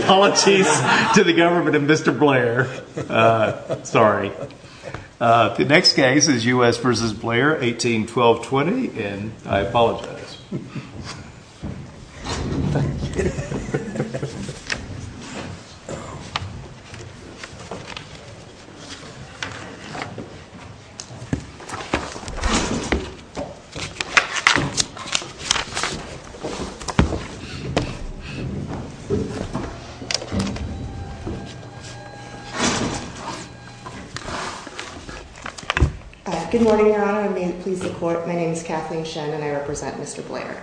Apologies to the government and Mr. Blair, sorry. The next case is U.S. v. Blair, 18-12-20, and I apologize. Good morning, Your Honor, and may it please the Court, my name is Kathleen Shen, and I apologize to Mr. Blair.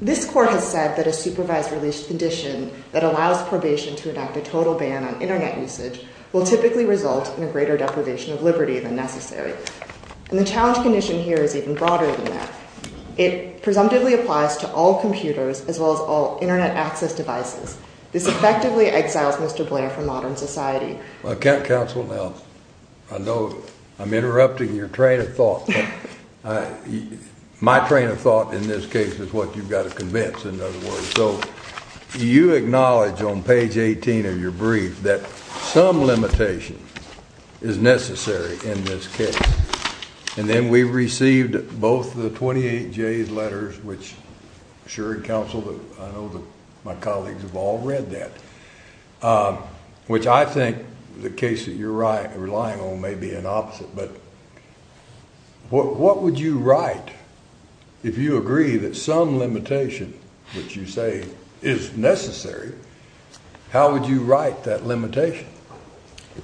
This Court has said that a supervised release condition that allows probation to enact a total ban on Internet usage will typically result in a greater deprivation of liberty than necessary. And the challenge condition here is even broader than that. It presumptively applies to all computers as well as all Internet access devices. This effectively exiles Mr. Blair from modern society. Counsel, now, I know I'm interrupting your train of thought. My train of thought in this case is what you've got to convince, in other words, so you acknowledge on page 18 of your brief that some limitation is necessary in this case. And then we received both the 28J's letters, which I'm sure, Counsel, I know my colleagues have all read that, which I think the case that you're relying on may be an opposite. But what would you write if you agree that some limitation, which you say is necessary, how would you write that limitation?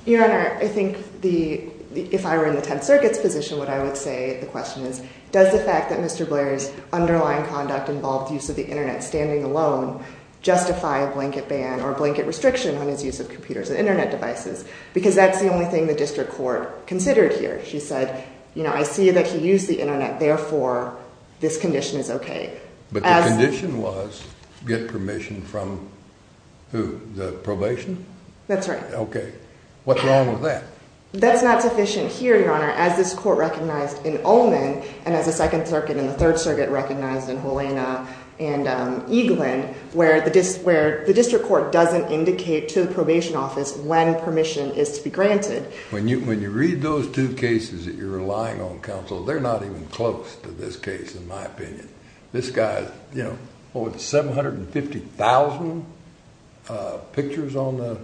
Your Honor, I think if I were in the Tenth Circuit's position, what I would say, the question is, does the fact that Mr. Blair's underlying conduct involved use of the Internet standing alone justify a blanket ban or a blanket restriction on his use of computers and Internet devices? Because that's the only thing the district court considered here. She said, you know, I see that he used the Internet, therefore, this condition is okay. But the condition was get permission from who? The probation? That's right. Okay. What's wrong with that? That's not sufficient here, Your Honor, as this court recognized in Ullman and as the Second Circuit and the Third Circuit recognized in Helena and Eaglin, where the district court doesn't indicate to the probation office when permission is to be granted. When you read those two cases that you're relying on, counsel, they're not even close to this case, in my opinion. This guy, you know, what, 750,000 pictures on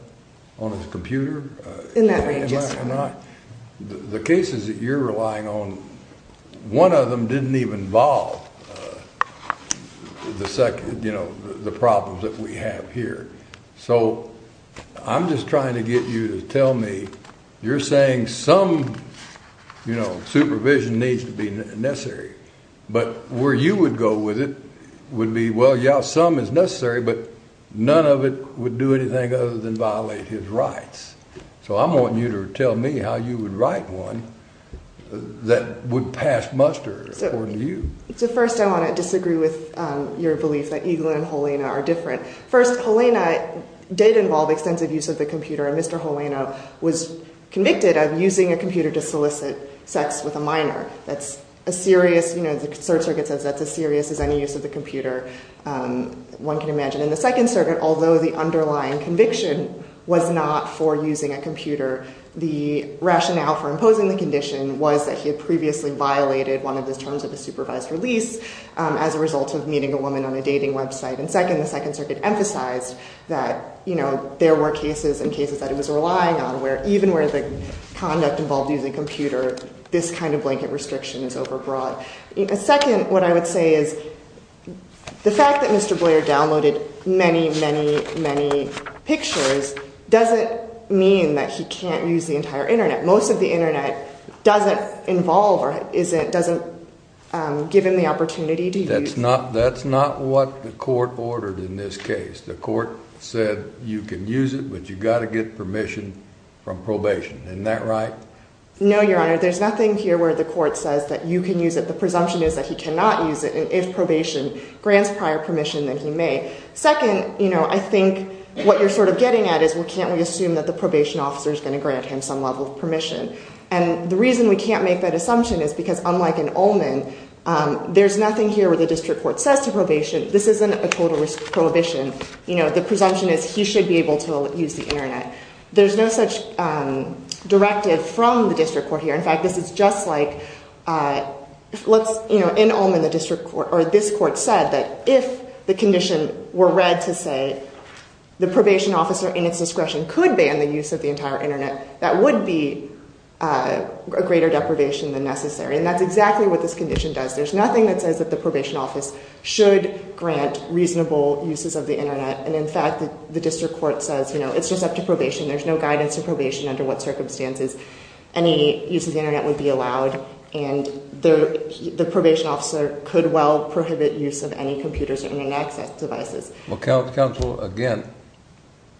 his computer? In that range, yes, Your Honor. The cases that you're relying on, one of them didn't even involve the second, you know, the problems that we have here. So I'm just trying to get you to tell me, you're saying some, you know, supervision needs to be necessary. But where you would go with it would be, well, yeah, some is necessary, but none of it would do anything other than violate his rights. So I'm wanting you to tell me how you would write one that would pass muster according to you. So first, I want to disagree with your belief that Eaglin and Helena are different. First, Helena did involve extensive use of the computer, and Mr. Helena was convicted of using a computer to solicit sex with a minor. That's a serious, you know, the Third Circuit says that's as serious as any use of the computer one can imagine. In the Second Circuit, although the underlying conviction was not for using a computer, the rationale for imposing the condition was that he had previously violated one of his terms of a supervised release as a result of meeting a woman on a dating website. And second, the Second Circuit emphasized that, you know, there were cases and cases that it was relying on where even where the conduct involved using a computer, this kind of blanket restriction is overbroad. Second, what I would say is the fact that Mr. Boyer downloaded many, many, many pictures doesn't mean that he can't use the entire internet. Most of the internet doesn't involve or isn't, doesn't give him the opportunity to use. That's not what the court ordered in this case. The court said you can use it, but you've got to get permission from probation. Isn't that right? No, Your Honor. There's nothing here where the court says that you can use it. The presumption is that he cannot use it, and if probation grants prior permission, then he may. Second, you know, I think what you're sort of getting at is, well, can't we assume that the probation officer is going to grant him some level of permission? And the reason we can't make that assumption is because unlike in Ullman, there's nothing here where the district court says to probation, this isn't a total risk prohibition. You know, the presumption is he should be able to use the internet. There's no such directive from the district court here. In fact, this is just like, let's, you know, in Ullman, the district court or this court said that if the condition were read to say the probation officer in its discretion could ban the use of the entire internet, that would be a greater deprivation than necessary. And that's exactly what this condition does. There's nothing that says that the probation office should grant reasonable uses of the internet. And in fact, the district court says, you know, it's just up to probation. There's no guidance to probation under what circumstances any use of the internet would be allowed. And the probation officer could well prohibit use of any computers or internet access devices. Well, counsel, again,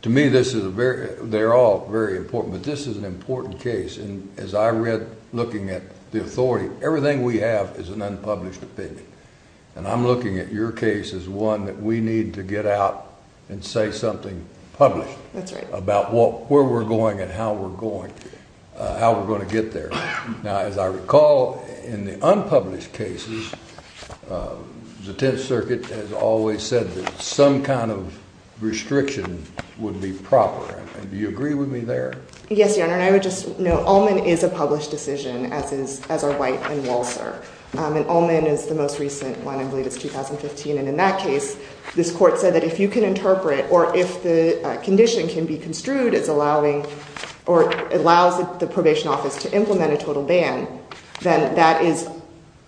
to me, this is a very, they're all very important, but this is an important case. And as I read, looking at the authority, everything we have is an unpublished opinion. And I'm looking at your case as one that we need to get out and say something published about what, where we're going and how we're going, how we're going to get there. Now, as I recall, in the unpublished cases, the 10th Circuit has always said that some kind of restriction would be proper. And do you agree with me there? Yes, Your Honor. And I would just note, Ullman is a published decision, as are White and Walser. And Ullman is the most recent one, I believe it's 2015. And in that case, this court said that if you can interpret or if the condition can be construed as allowing or allows the probation office to implement a total ban, then that is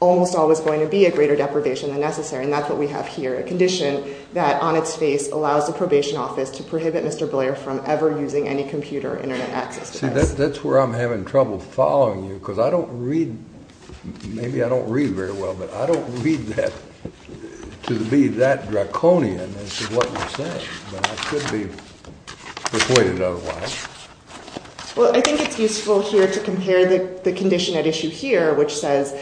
almost always going to be a greater deprivation than necessary. And that's what we have here, a condition that on its face allows the probation office to prohibit Mr. Blair from ever using any computer or internet access devices. See, that's where I'm having trouble following you, because I don't read, maybe I don't read very well, but I don't read that to be that draconian as to what you're saying. But that could be reported otherwise. Well, I think it's useful here to compare the condition at issue here, which says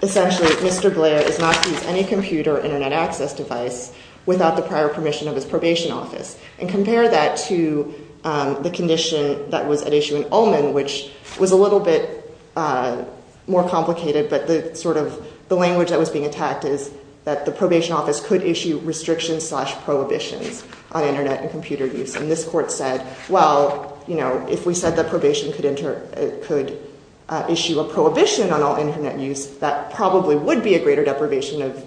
essentially Mr. Blair is not to use any computer or internet access device without the prior permission of his probation office, and compare that to the condition that was at issue in Ullman, which was a little bit more complicated, but the sort of, the language that was being attacked is that the probation office could issue restrictions slash prohibitions on internet and computer use. And this court said, well, you know, if we said that probation could enter, could issue a prohibition on all internet use, that probably would be a greater deprivation of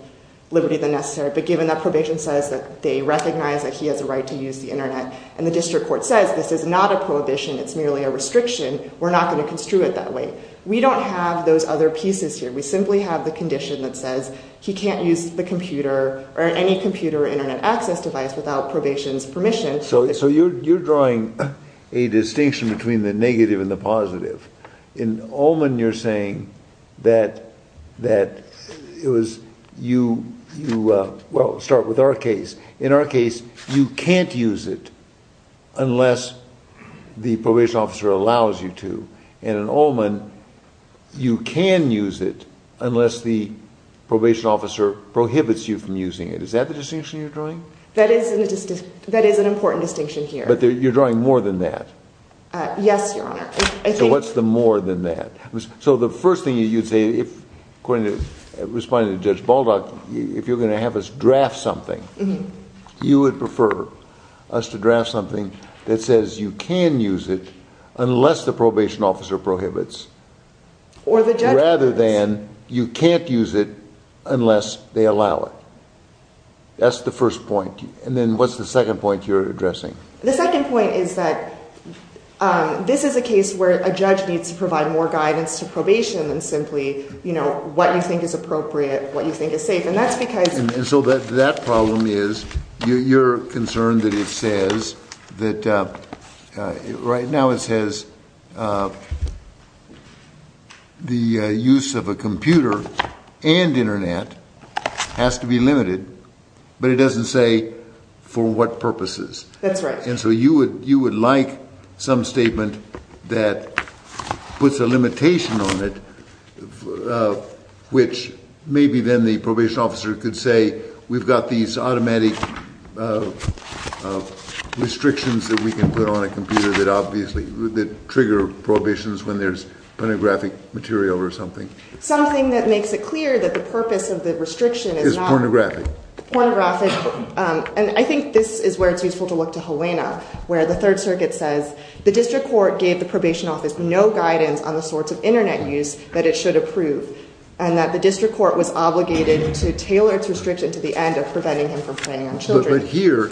liberty than necessary. But given that probation says that they recognize that he has a right to use the internet, and the district court says this is not a prohibition, it's merely a restriction, we're not going to construe it that way. We don't have those other pieces here. We simply have the condition that says he can't use the computer or any computer or internet access device without probation's permission. So you're drawing a distinction between the negative and the positive. In Ullman, you're saying that it was, you, well, start with our case. In our case, you can't use it unless the probation officer allows you to. And in Ullman, you can use it unless the probation officer prohibits you from using it. Is that the distinction you're drawing? That is an important distinction here. But you're drawing more than that. Yes, Your Honor. So what's the more than that? So the first thing you'd say, if, according to, responding to Judge Baldock, if you're going to have us draft something, you would prefer us to draft something that says you can use it unless the probation officer prohibits, rather than you can't use it unless they allow it. That's the first point. And then what's the second point you're addressing? The second point is that this is a case where a judge needs to provide more guidance to probation than simply, you know, what you think is appropriate, what you think is safe. And that's because... And so that problem is, you're concerned that it says that, right now it says the use of a computer and internet has to be limited, but it doesn't say for what purposes. That's right. And so you would like some statement that puts a limitation on it, which maybe then the probation officer could say, we've got these automatic restrictions that we can put on a computer that obviously, that trigger prohibitions when there's pornographic material or something. Something that makes it clear that the purpose of the restriction is not... Is pornographic. Pornographic. And I think this is where it's useful to look to Helena, where the Third Circuit says, the district court gave the probation office no guidance on the sorts of internet use that it should approve, and that the district court was obligated to tailor its restriction to the end of preventing him from playing on children. But here,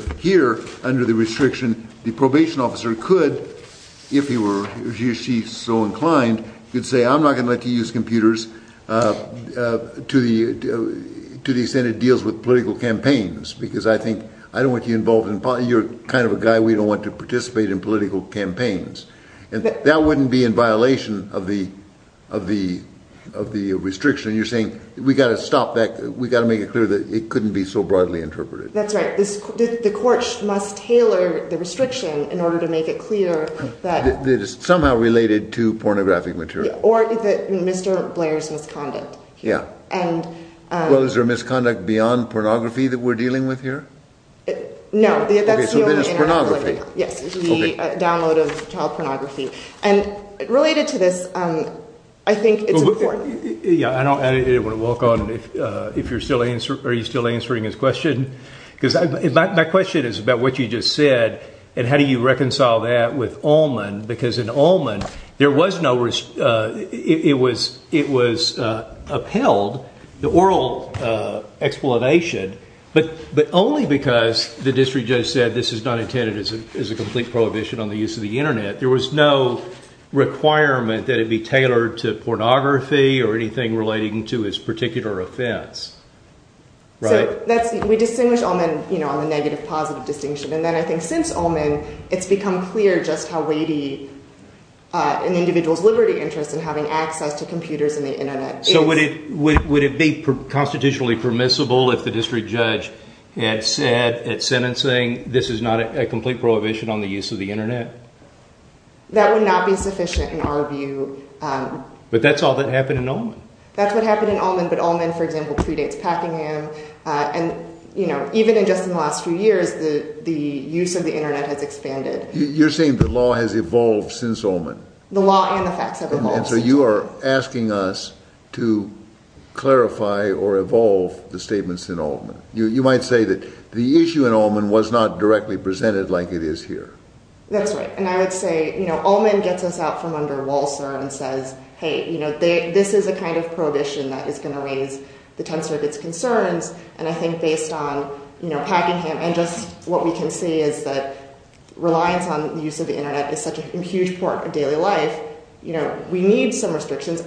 under the restriction, the probation officer could, if he were, he or she is so inclined, could say, I'm not going to let you use computers to the extent it deals with political campaigns, because I think, I don't want you involved in, you're kind of a guy we don't want to participate in political campaigns. And that wouldn't be in violation of the restriction, and you're saying, we've got to stop that, we've got to make it clear that it couldn't be so broadly interpreted. That's right. The court must tailor the restriction in order to make it clear that... That it's somehow related to pornographic material. Or that Mr. Blair's misconduct. Yeah. And... Well, is there a misconduct beyond pornography that we're dealing with here? No. That's the only... Okay, so then it's pornography. Yes. It's the download of child pornography. And related to this, I think it's important... Yeah, I don't want to walk on, if you're still answering, are you still answering his question? Because my question is about what you just said, and how do you reconcile that with Allman? Because in Allman, there was no... It was upheld, the oral explanation, but only because the district judge said, this is not intended as a complete prohibition on the use of the internet. There was no requirement that it be tailored to pornography or anything relating to his particular offense. Right? So, we distinguish Allman on the negative-positive distinction, and then I think since Allman, it's become clear just how weighty an individual's liberty interest in having access to computers and the internet is. So would it be constitutionally permissible if the district judge had said at sentencing, this is not a complete prohibition on the use of the internet? That would not be sufficient in our view. But that's all that happened in Allman. That's what happened in Allman, but Allman, for example, predates Packingham, and even in just the last few years, the use of the internet has expanded. You're saying the law has evolved since Allman? The law and the facts have evolved. And so you are asking us to clarify or evolve the statements in Allman. You might say that the issue in Allman was not directly presented like it is here. That's right. And I would say Allman gets us out from under Walser and says, hey, this is a kind of prohibition that is going to raise the tensor of its concerns, and I think based on Packingham and just what we can see is that reliance on the use of the internet is such a huge part of daily life, we need some restrictions.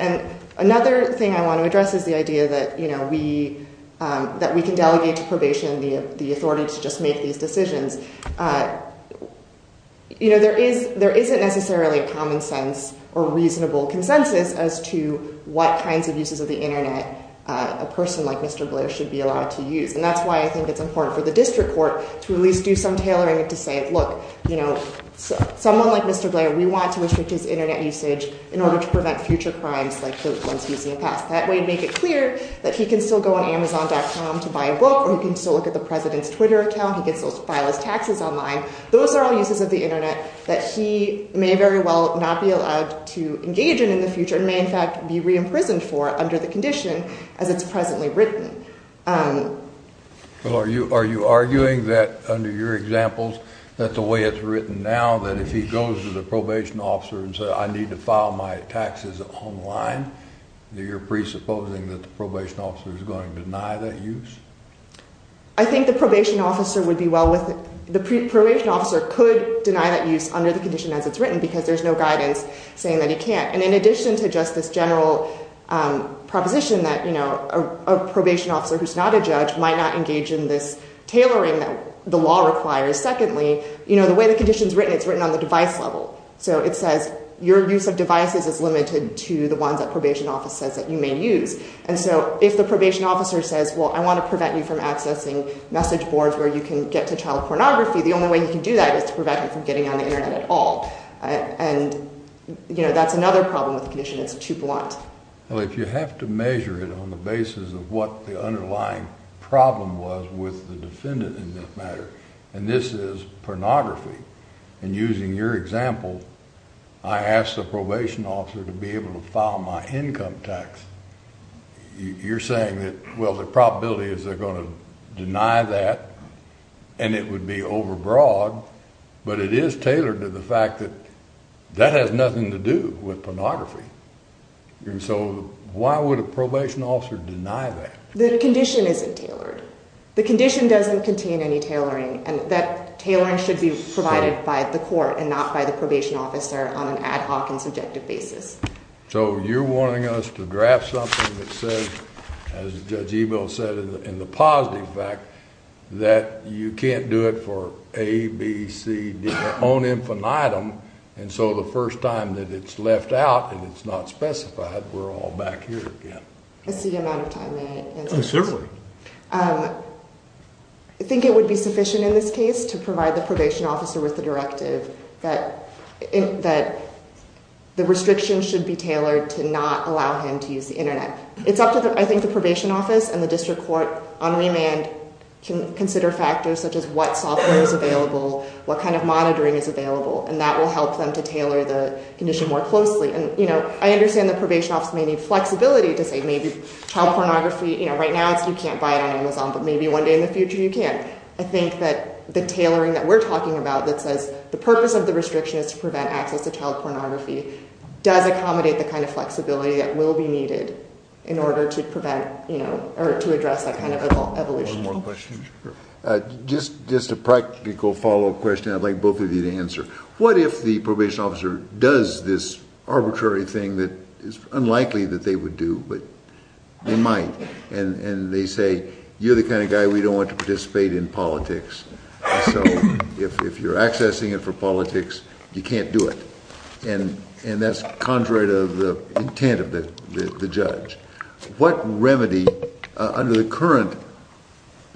Another thing I want to address is the idea that we can delegate to probation the authority to just make these decisions. There isn't necessarily a common sense or reasonable consensus as to what kinds of uses of the internet a person like Mr. Blair should be allowed to use, and that's why I think it's important for the district court to at least do some tailoring to say, look, someone like Mr. Blair, we want to restrict his internet usage in order to prevent future crimes like the ones he's seen in the past. That way to make it clear that he can still go on Amazon.com to buy a book or he can still look at the president's Twitter account, he gets those file as taxes online. Those are all uses of the internet that he may very well not be allowed to engage in in the future and may in fact be re-imprisoned for under the condition as it's presently written. Well, are you arguing that under your examples that the way it's written now, that if he goes to the probation officer and says, I need to file my taxes online, that you're presupposing that the probation officer is going to deny that use? I think the probation officer could deny that use under the condition as it's written because there's no guidance saying that he can't, and in addition to just this general proposition that a probation officer who's not a judge might not engage in this tailoring that the device level, so it says your use of devices is limited to the ones that probation office says that you may use. And so if the probation officer says, well, I want to prevent you from accessing message boards where you can get to child pornography, the only way you can do that is to prevent him from getting on the internet at all. And you know, that's another problem with the condition, it's too blunt. Well, if you have to measure it on the basis of what the underlying problem was with the in your example, I asked the probation officer to be able to file my income tax. You're saying that, well, the probability is they're going to deny that and it would be overbroad, but it is tailored to the fact that that has nothing to do with pornography. And so why would a probation officer deny that? The condition isn't tailored. The condition doesn't contain any tailoring and that tailoring should be provided by the probation officer on an ad hoc and subjective basis. So you're wanting us to draft something that says, as Judge Ebel said, in the positive fact that you can't do it for A, B, C, D, on infinitum. And so the first time that it's left out and it's not specified, we're all back here again. I see you're out of time, may I answer this? Certainly. I think it would be sufficient in this case to provide the probation officer with the that the restrictions should be tailored to not allow him to use the internet. It's up to the, I think the probation office and the district court on remand can consider factors such as what software is available, what kind of monitoring is available, and that will help them to tailor the condition more closely. And I understand the probation office may need flexibility to say maybe child pornography, right now you can't buy it on Amazon, but maybe one day in the future you can. And I think that the tailoring that we're talking about that says the purpose of the restriction is to prevent access to child pornography does accommodate the kind of flexibility that will be needed in order to prevent, you know, or to address that kind of evolution. Just a practical follow-up question I'd like both of you to answer. What if the probation officer does this arbitrary thing that is unlikely that they would do but they might and they say, you're the kind of guy we don't want to participate in politics. So if you're accessing it for politics, you can't do it. And that's contrary to the intent of the judge. What remedy under the current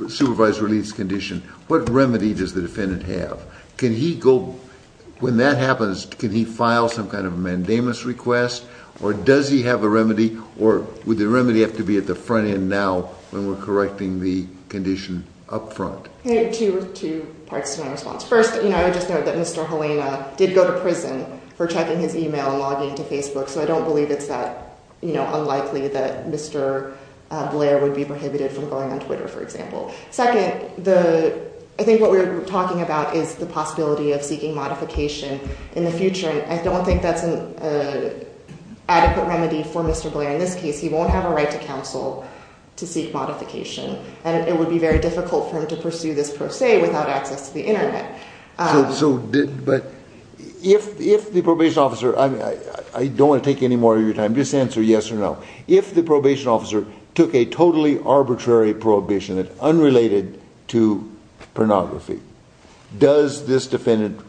supervised release condition, what remedy does the defendant have? Can he go... when that happens, can he file some kind of a mandamus request or does he have a remedy or would the remedy have to be at the front end now when we're correcting the condition up front? Two parts to my response. First, you know, I would just note that Mr. Helena did go to prison for checking his email and logging into Facebook, so I don't believe it's that, you know, unlikely that Mr. Blair would be prohibited from going on Twitter, for example. Second, the... I think what we're talking about is the possibility of seeking modification in the future and I don't think that's an adequate remedy for Mr. Blair in this case. He won't have a right to counsel to seek modification and it would be very difficult for him to pursue this per se without access to the internet. So did... but if the probation officer... I mean, I don't want to take any more of your time. Just answer yes or no. If the probation officer took a totally arbitrary prohibition that's unrelated to pornography, does this defendant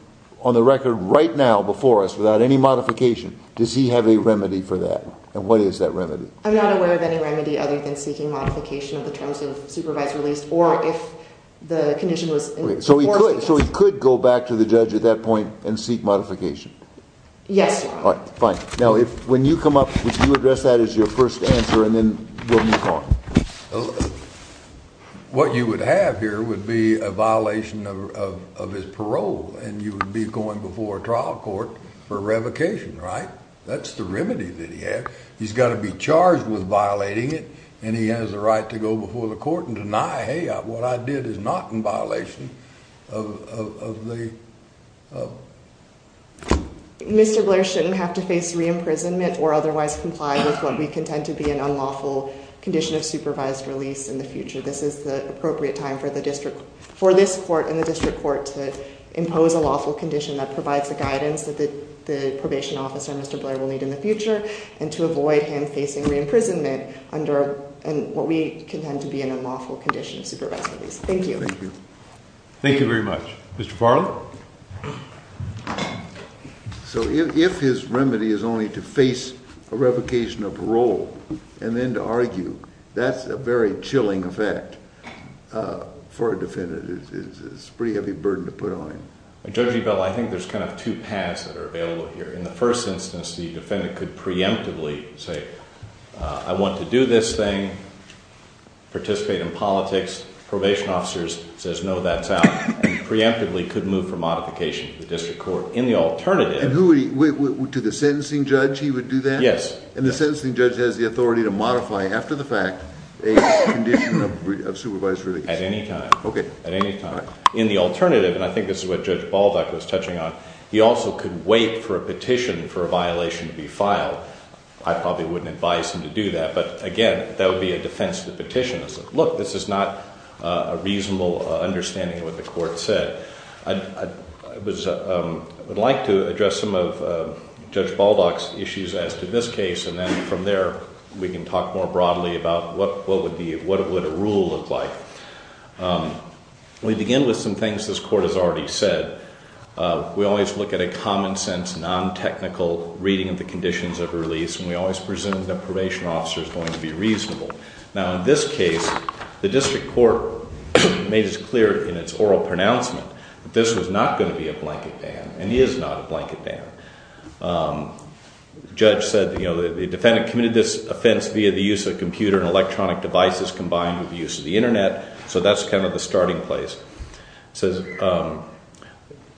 on the record right now before us without any modification, does he have a remedy for that? And what is that remedy? I'm not aware of any remedy other than seeking modification of the terms of supervised release or if the condition was... So he could go back to the judge at that point and seek modification? Yes. All right, fine. Now, when you come up, would you address that as your first answer and then we'll move on? Well, what you would have here would be a violation of his parole and you would be going before a trial court for revocation, right? That's the remedy that he has. He's got to be charged with violating it and he has the right to go before the court and deny, hey, what I did is not in violation of the... Mr. Blair shouldn't have to face re-imprisonment or otherwise comply with what we contend to be an unlawful condition of supervised release in the future. This is the appropriate time for this court and the district court to impose a lawful condition that provides the guidance that the probation officer, Mr. Blair, will need in the future and to avoid him facing re-imprisonment under what we contend to be an unlawful condition of supervised release. Thank you. Thank you very much. Mr. Farley? No. So if his remedy is only to face a revocation of parole and then to argue, that's a very chilling effect for a defendant. It's a pretty heavy burden to put on him. Judge Ebel, I think there's kind of two paths that are available here. In the first instance, the defendant could preemptively say, I want to do this thing, participate in politics. Probation officers says, no, that's out. And preemptively could move for modification to the district court. In the alternative... And who would he... To the sentencing judge, he would do that? Yes. And the sentencing judge has the authority to modify, after the fact, a condition of supervised release? At any time. Okay. At any time. In the alternative, and I think this is what Judge Balduck was touching on, he also could wait for a petition for a violation to be filed. I probably wouldn't advise him to do that. But again, that would be a defense to the petition. Look, this is not a reasonable understanding of what the court said. I would like to address some of Judge Balduck's issues as to this case. And then from there, we can talk more broadly about what would a rule look like. We begin with some things this court has already said. We always look at a common sense, non-technical reading of the conditions of release. And we always presume the probation officer is going to be reasonable. Now, in this case, the district court made it clear in its oral pronouncement that this was not going to be a blanket ban. And he is not a blanket ban. Judge said the defendant committed this offense via the use of a computer and electronic devices combined with the use of the internet. So that's kind of the starting place.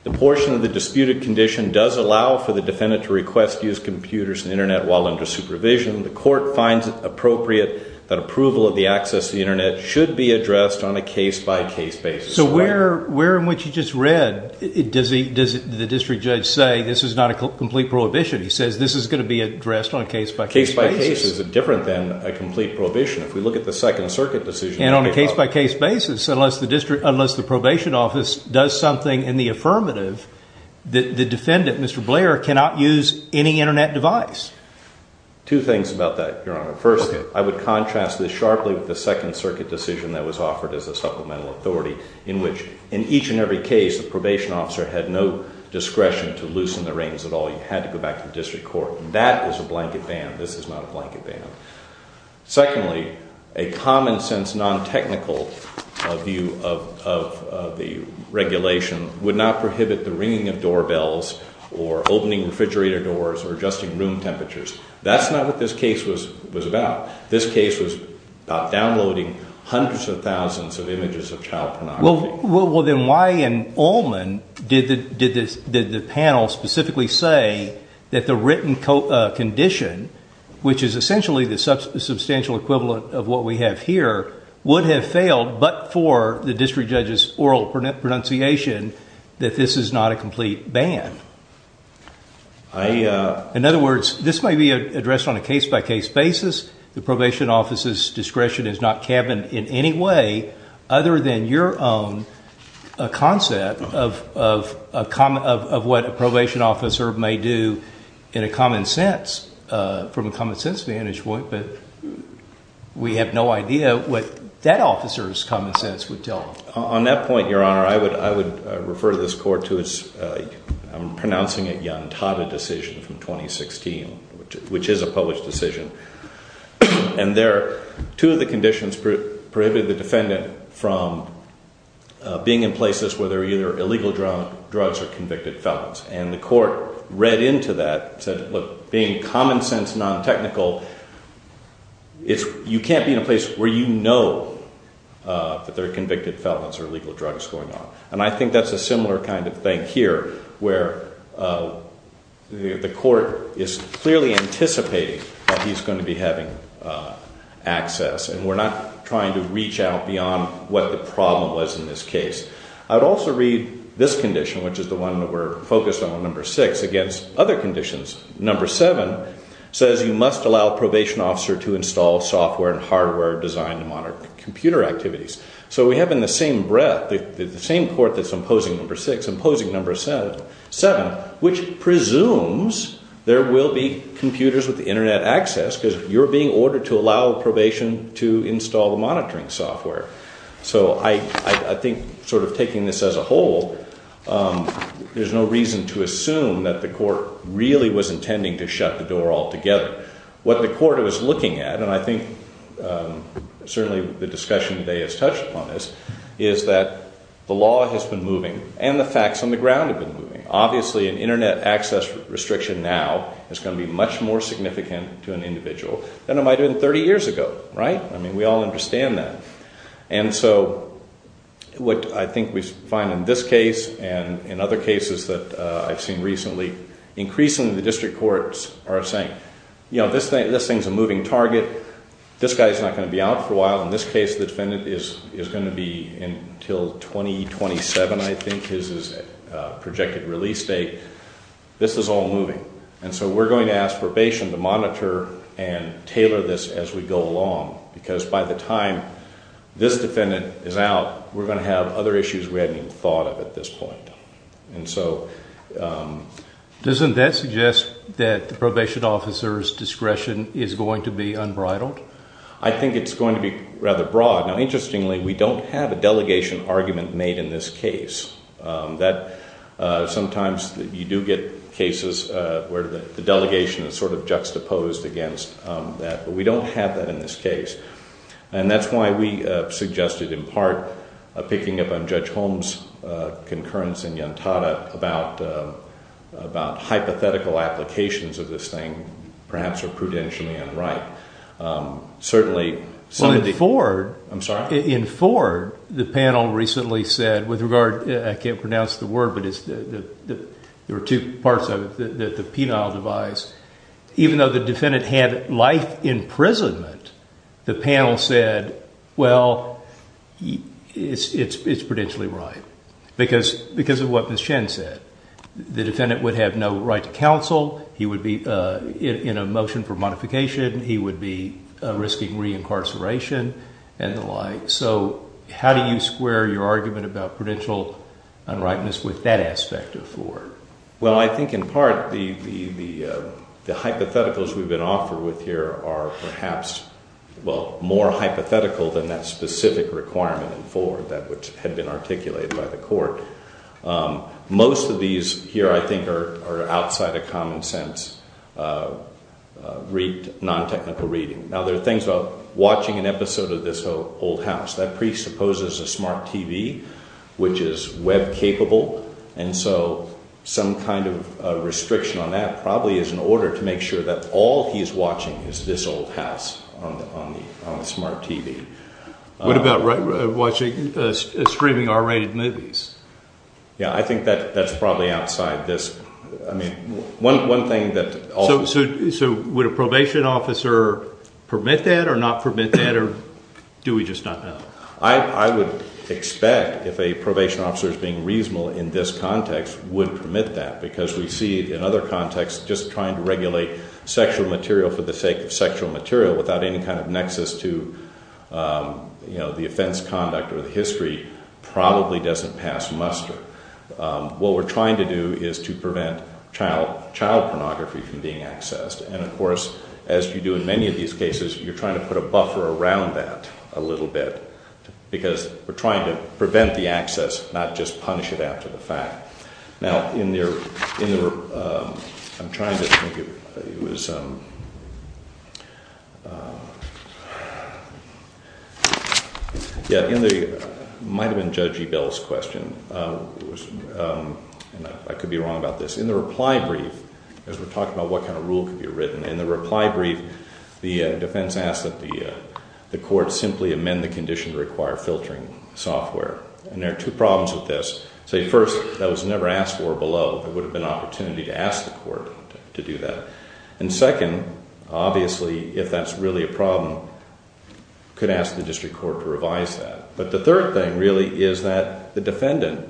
The portion of the disputed condition does allow for the defendant to request to use computers and internet while under supervision. The court finds it appropriate that approval of the access to the internet should be addressed on a case-by-case basis. So where in what you just read, does the district judge say this is not a complete prohibition? He says this is going to be addressed on a case-by-case basis. Case-by-case is different than a complete prohibition. If we look at the Second Circuit decision. And on a case-by-case basis, unless the probation office does something in the affirmative, the defendant, Mr. Blair, cannot use any internet device. Two things about that, Your Honor. First, I would contrast this sharply with the Second Circuit decision that was offered as a supplemental authority in which in each and every case, the probation officer had no discretion to loosen the reins at all. He had to go back to the district court. That is a blanket ban. This is not a blanket ban. Secondly, a common-sense, non-technical view of the regulation would not prohibit the ringing of doorbells or opening refrigerator doors or adjusting room temperatures. That's not what this case was about. This case was about downloading hundreds of thousands of images of child pornography. Well, then why in Ullman did the panel specifically say that the written condition, which is essentially the substantial equivalent of what we have here, would have failed but for the district judge's oral pronunciation that this is not a complete ban? In other words, this might be addressed on a case-by-case basis. The probation officer's discretion is not cabined in any way other than your own concept of what a probation officer may do in a common sense, from a common-sense vantage point. But we have no idea what that officer's common sense would tell us. On that point, Your Honor, I would refer this court to its, I'm pronouncing it, Yantada decision from 2016, which is a published decision. And there, two of the conditions prohibited the defendant from being in places where they're illegal drugs or convicted felons. And the court read into that and said, look, being common-sense, non-technical, you can't be in a place where you know that there are convicted felons or illegal drugs going on. And I think that's a similar kind of thing here, where the court is clearly anticipating that he's going to be having access. And we're not trying to reach out beyond what the problem was in this case. I'd also read this condition, which is the one that we're focused on, number six, against other conditions. Number seven says you must allow a probation officer to install software and hardware designed to monitor computer activities. So we have in the same breath, the same court that's imposing number six, imposing number seven, which presumes there will be computers with internet access, because you're being ordered to allow probation to install the monitoring software. So I think sort of taking this as a whole, there's no reason to assume that the court really was intending to shut the door altogether. What the court was looking at, and I think certainly the discussion today has touched upon this, is that the law has been moving and the facts on the ground have been moving. Obviously, an internet access restriction now is going to be much more significant to an individual than it might have been 30 years ago, right? I mean, we all understand that. And so what I think we find in this case and in other cases that I've seen recently, increasingly the district courts are saying, you know, this thing's a moving target. This guy's not going to be out for a while. In this case, the defendant is going to be until 2027, I think, is his projected release date. This is all moving. And so we're going to ask probation to monitor and tailor this as we go along, because by the time this defendant is out, we're going to have other issues we hadn't even thought of at this point. And so... Doesn't that suggest that the probation officer's discretion is going to be unbridled? I think it's going to be rather broad. Now, interestingly, we don't have a delegation argument made in this case. Sometimes you do get cases where the delegation is sort of juxtaposed against that, but we don't have that in this case. And that's why we suggested, in part, picking up on Judge Holmes' concurrence in Yantada about hypothetical applications of this thing, perhaps, are prudentially unripe. Certainly... Well, in Ford... I'm sorry? In Ford, the panel recently said, with regard... I can't pronounce the word, but there were two parts of it, the penile device. Even though the defendant had life imprisonment, the panel said, well, it's prudentially ripe, because of what Ms. Chen said. The defendant would have no right to counsel. He would be in a motion for modification. He would be risking reincarceration and the like. So how do you square your argument about prudential unripeness with that aspect of Ford? Well, I think, in part, the hypotheticals we've been offered with here are perhaps, well, more hypothetical than that specific requirement in Ford, that which had been articulated by the court. Most of these here, I think, are outside of common sense, non-technical reading. Now, there are things about watching an episode of This Old House. That presupposes a smart TV, which is web-capable. And so some kind of restriction on that probably is in order to make sure that all he's watching is This Old House on the smart TV. What about streaming R-rated movies? Yeah, I think that's probably outside this. So would a probation officer permit that or not permit that, or do we just not know? I would expect, if a probation officer is being reasonable in this context, would permit that. Because we see, in other contexts, just trying to regulate sexual material for the sake of sexual material without any kind of nexus to the offense conduct or the history probably doesn't pass muster. What we're trying to do is to prevent child pornography from being accessed. And of course, as you do in many of these cases, you're trying to put a buffer around that a little bit. Because we're trying to prevent the access, not just punish it after the fact. Now, I'm trying to think, it was, yeah, it might have been Judge Ebell's question. And I could be wrong about this. In the reply brief, as we're talking about what kind of rule could be written, in the reply brief, the defense asked that the court simply amend the condition to require filtering software. And there are two problems with this. Say, first, that was never asked for below. There would have been opportunity to ask the court to do that. And second, obviously, if that's really a problem, could ask the district court to revise that. But the third thing, really, is that the defendant,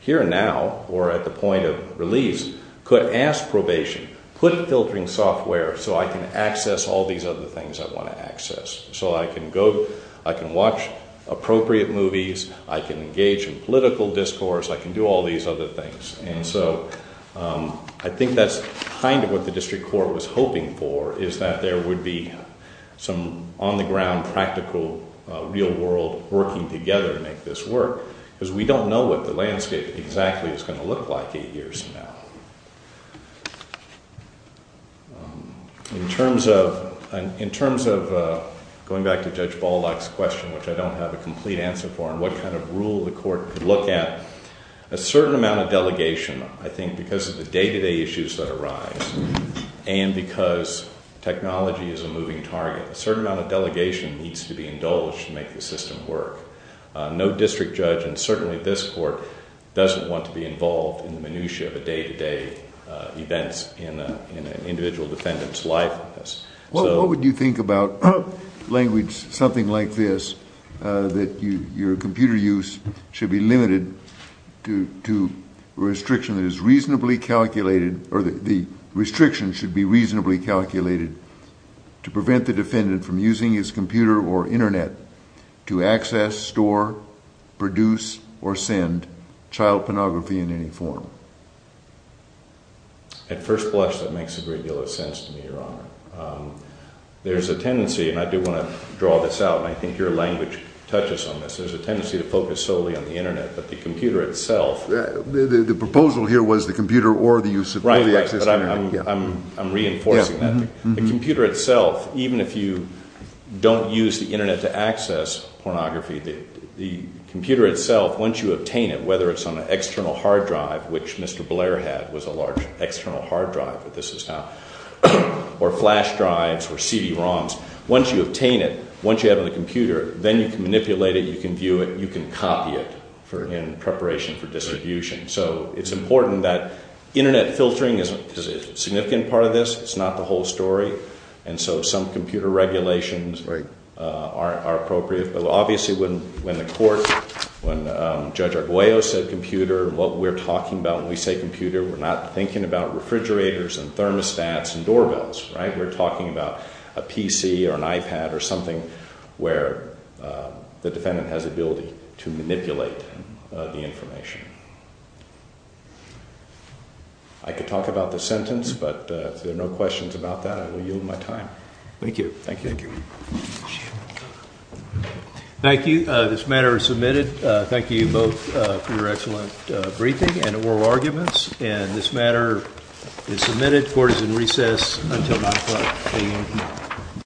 here and now, or at the point of release, could ask probation, put filtering software so I can access all these other things I want to access. So I can go, I can watch appropriate movies, I can engage in political discourse, I can do all these other things. And so I think that's kind of what the district court was hoping for, is that there would be some on-the-ground, practical, real-world working together to make this work. Because we don't know what the landscape exactly is going to look like eight years from now. In terms of going back to Judge Baldock's question, which I don't have a complete answer for, and what kind of rule the court could look at, a certain amount of delegation, I think, because of the day-to-day issues that arise, and because technology is a moving target, a certain amount of delegation needs to be indulged to make the system work. No district judge, and certainly this court, doesn't want to be involved in the minutiae of day-to-day events in an individual defendant's life. Well, what would you think about language something like this, that your computer use should be limited to a restriction that is reasonably calculated, or the restriction should be reasonably calculated to prevent the defendant from using his computer or internet to access, store, produce, or send child pornography in any form? At first blush, that makes a great deal of sense to me, Your Honor. There's a tendency, and I do want to draw this out, and I think your language touches on this, there's a tendency to focus solely on the internet, but the computer itself... The proposal here was the computer or the use of... Right, right, but I'm reinforcing that. The computer itself, even if you don't use the internet to access pornography, the computer itself, once you obtain it, whether it's on an external hard drive, which Mr. Blair had, was a large external hard drive, but this is not, or flash drives, or CD-ROMs, once you obtain it, once you have the computer, then you can manipulate it, you can view it, you can copy it in preparation for distribution. So it's important that internet filtering is a significant part of this, it's not the whole story, and so some computer regulations are appropriate, but obviously when the court, when Judge Arguello said computer, what we're talking about when we say computer, we're not thinking about refrigerators, and thermostats, and doorbells, right? We're talking about a PC, or an iPad, or something where the defendant has the ability to manipulate the information. I could talk about the sentence, but if there are no questions about that, I will yield my time. Thank you. Thank you. Thank you. This matter is submitted. Thank you both for your excellent briefing and oral arguments, and this matter is submitted. Court is in recess until 9 o'clock a.m. tomorrow.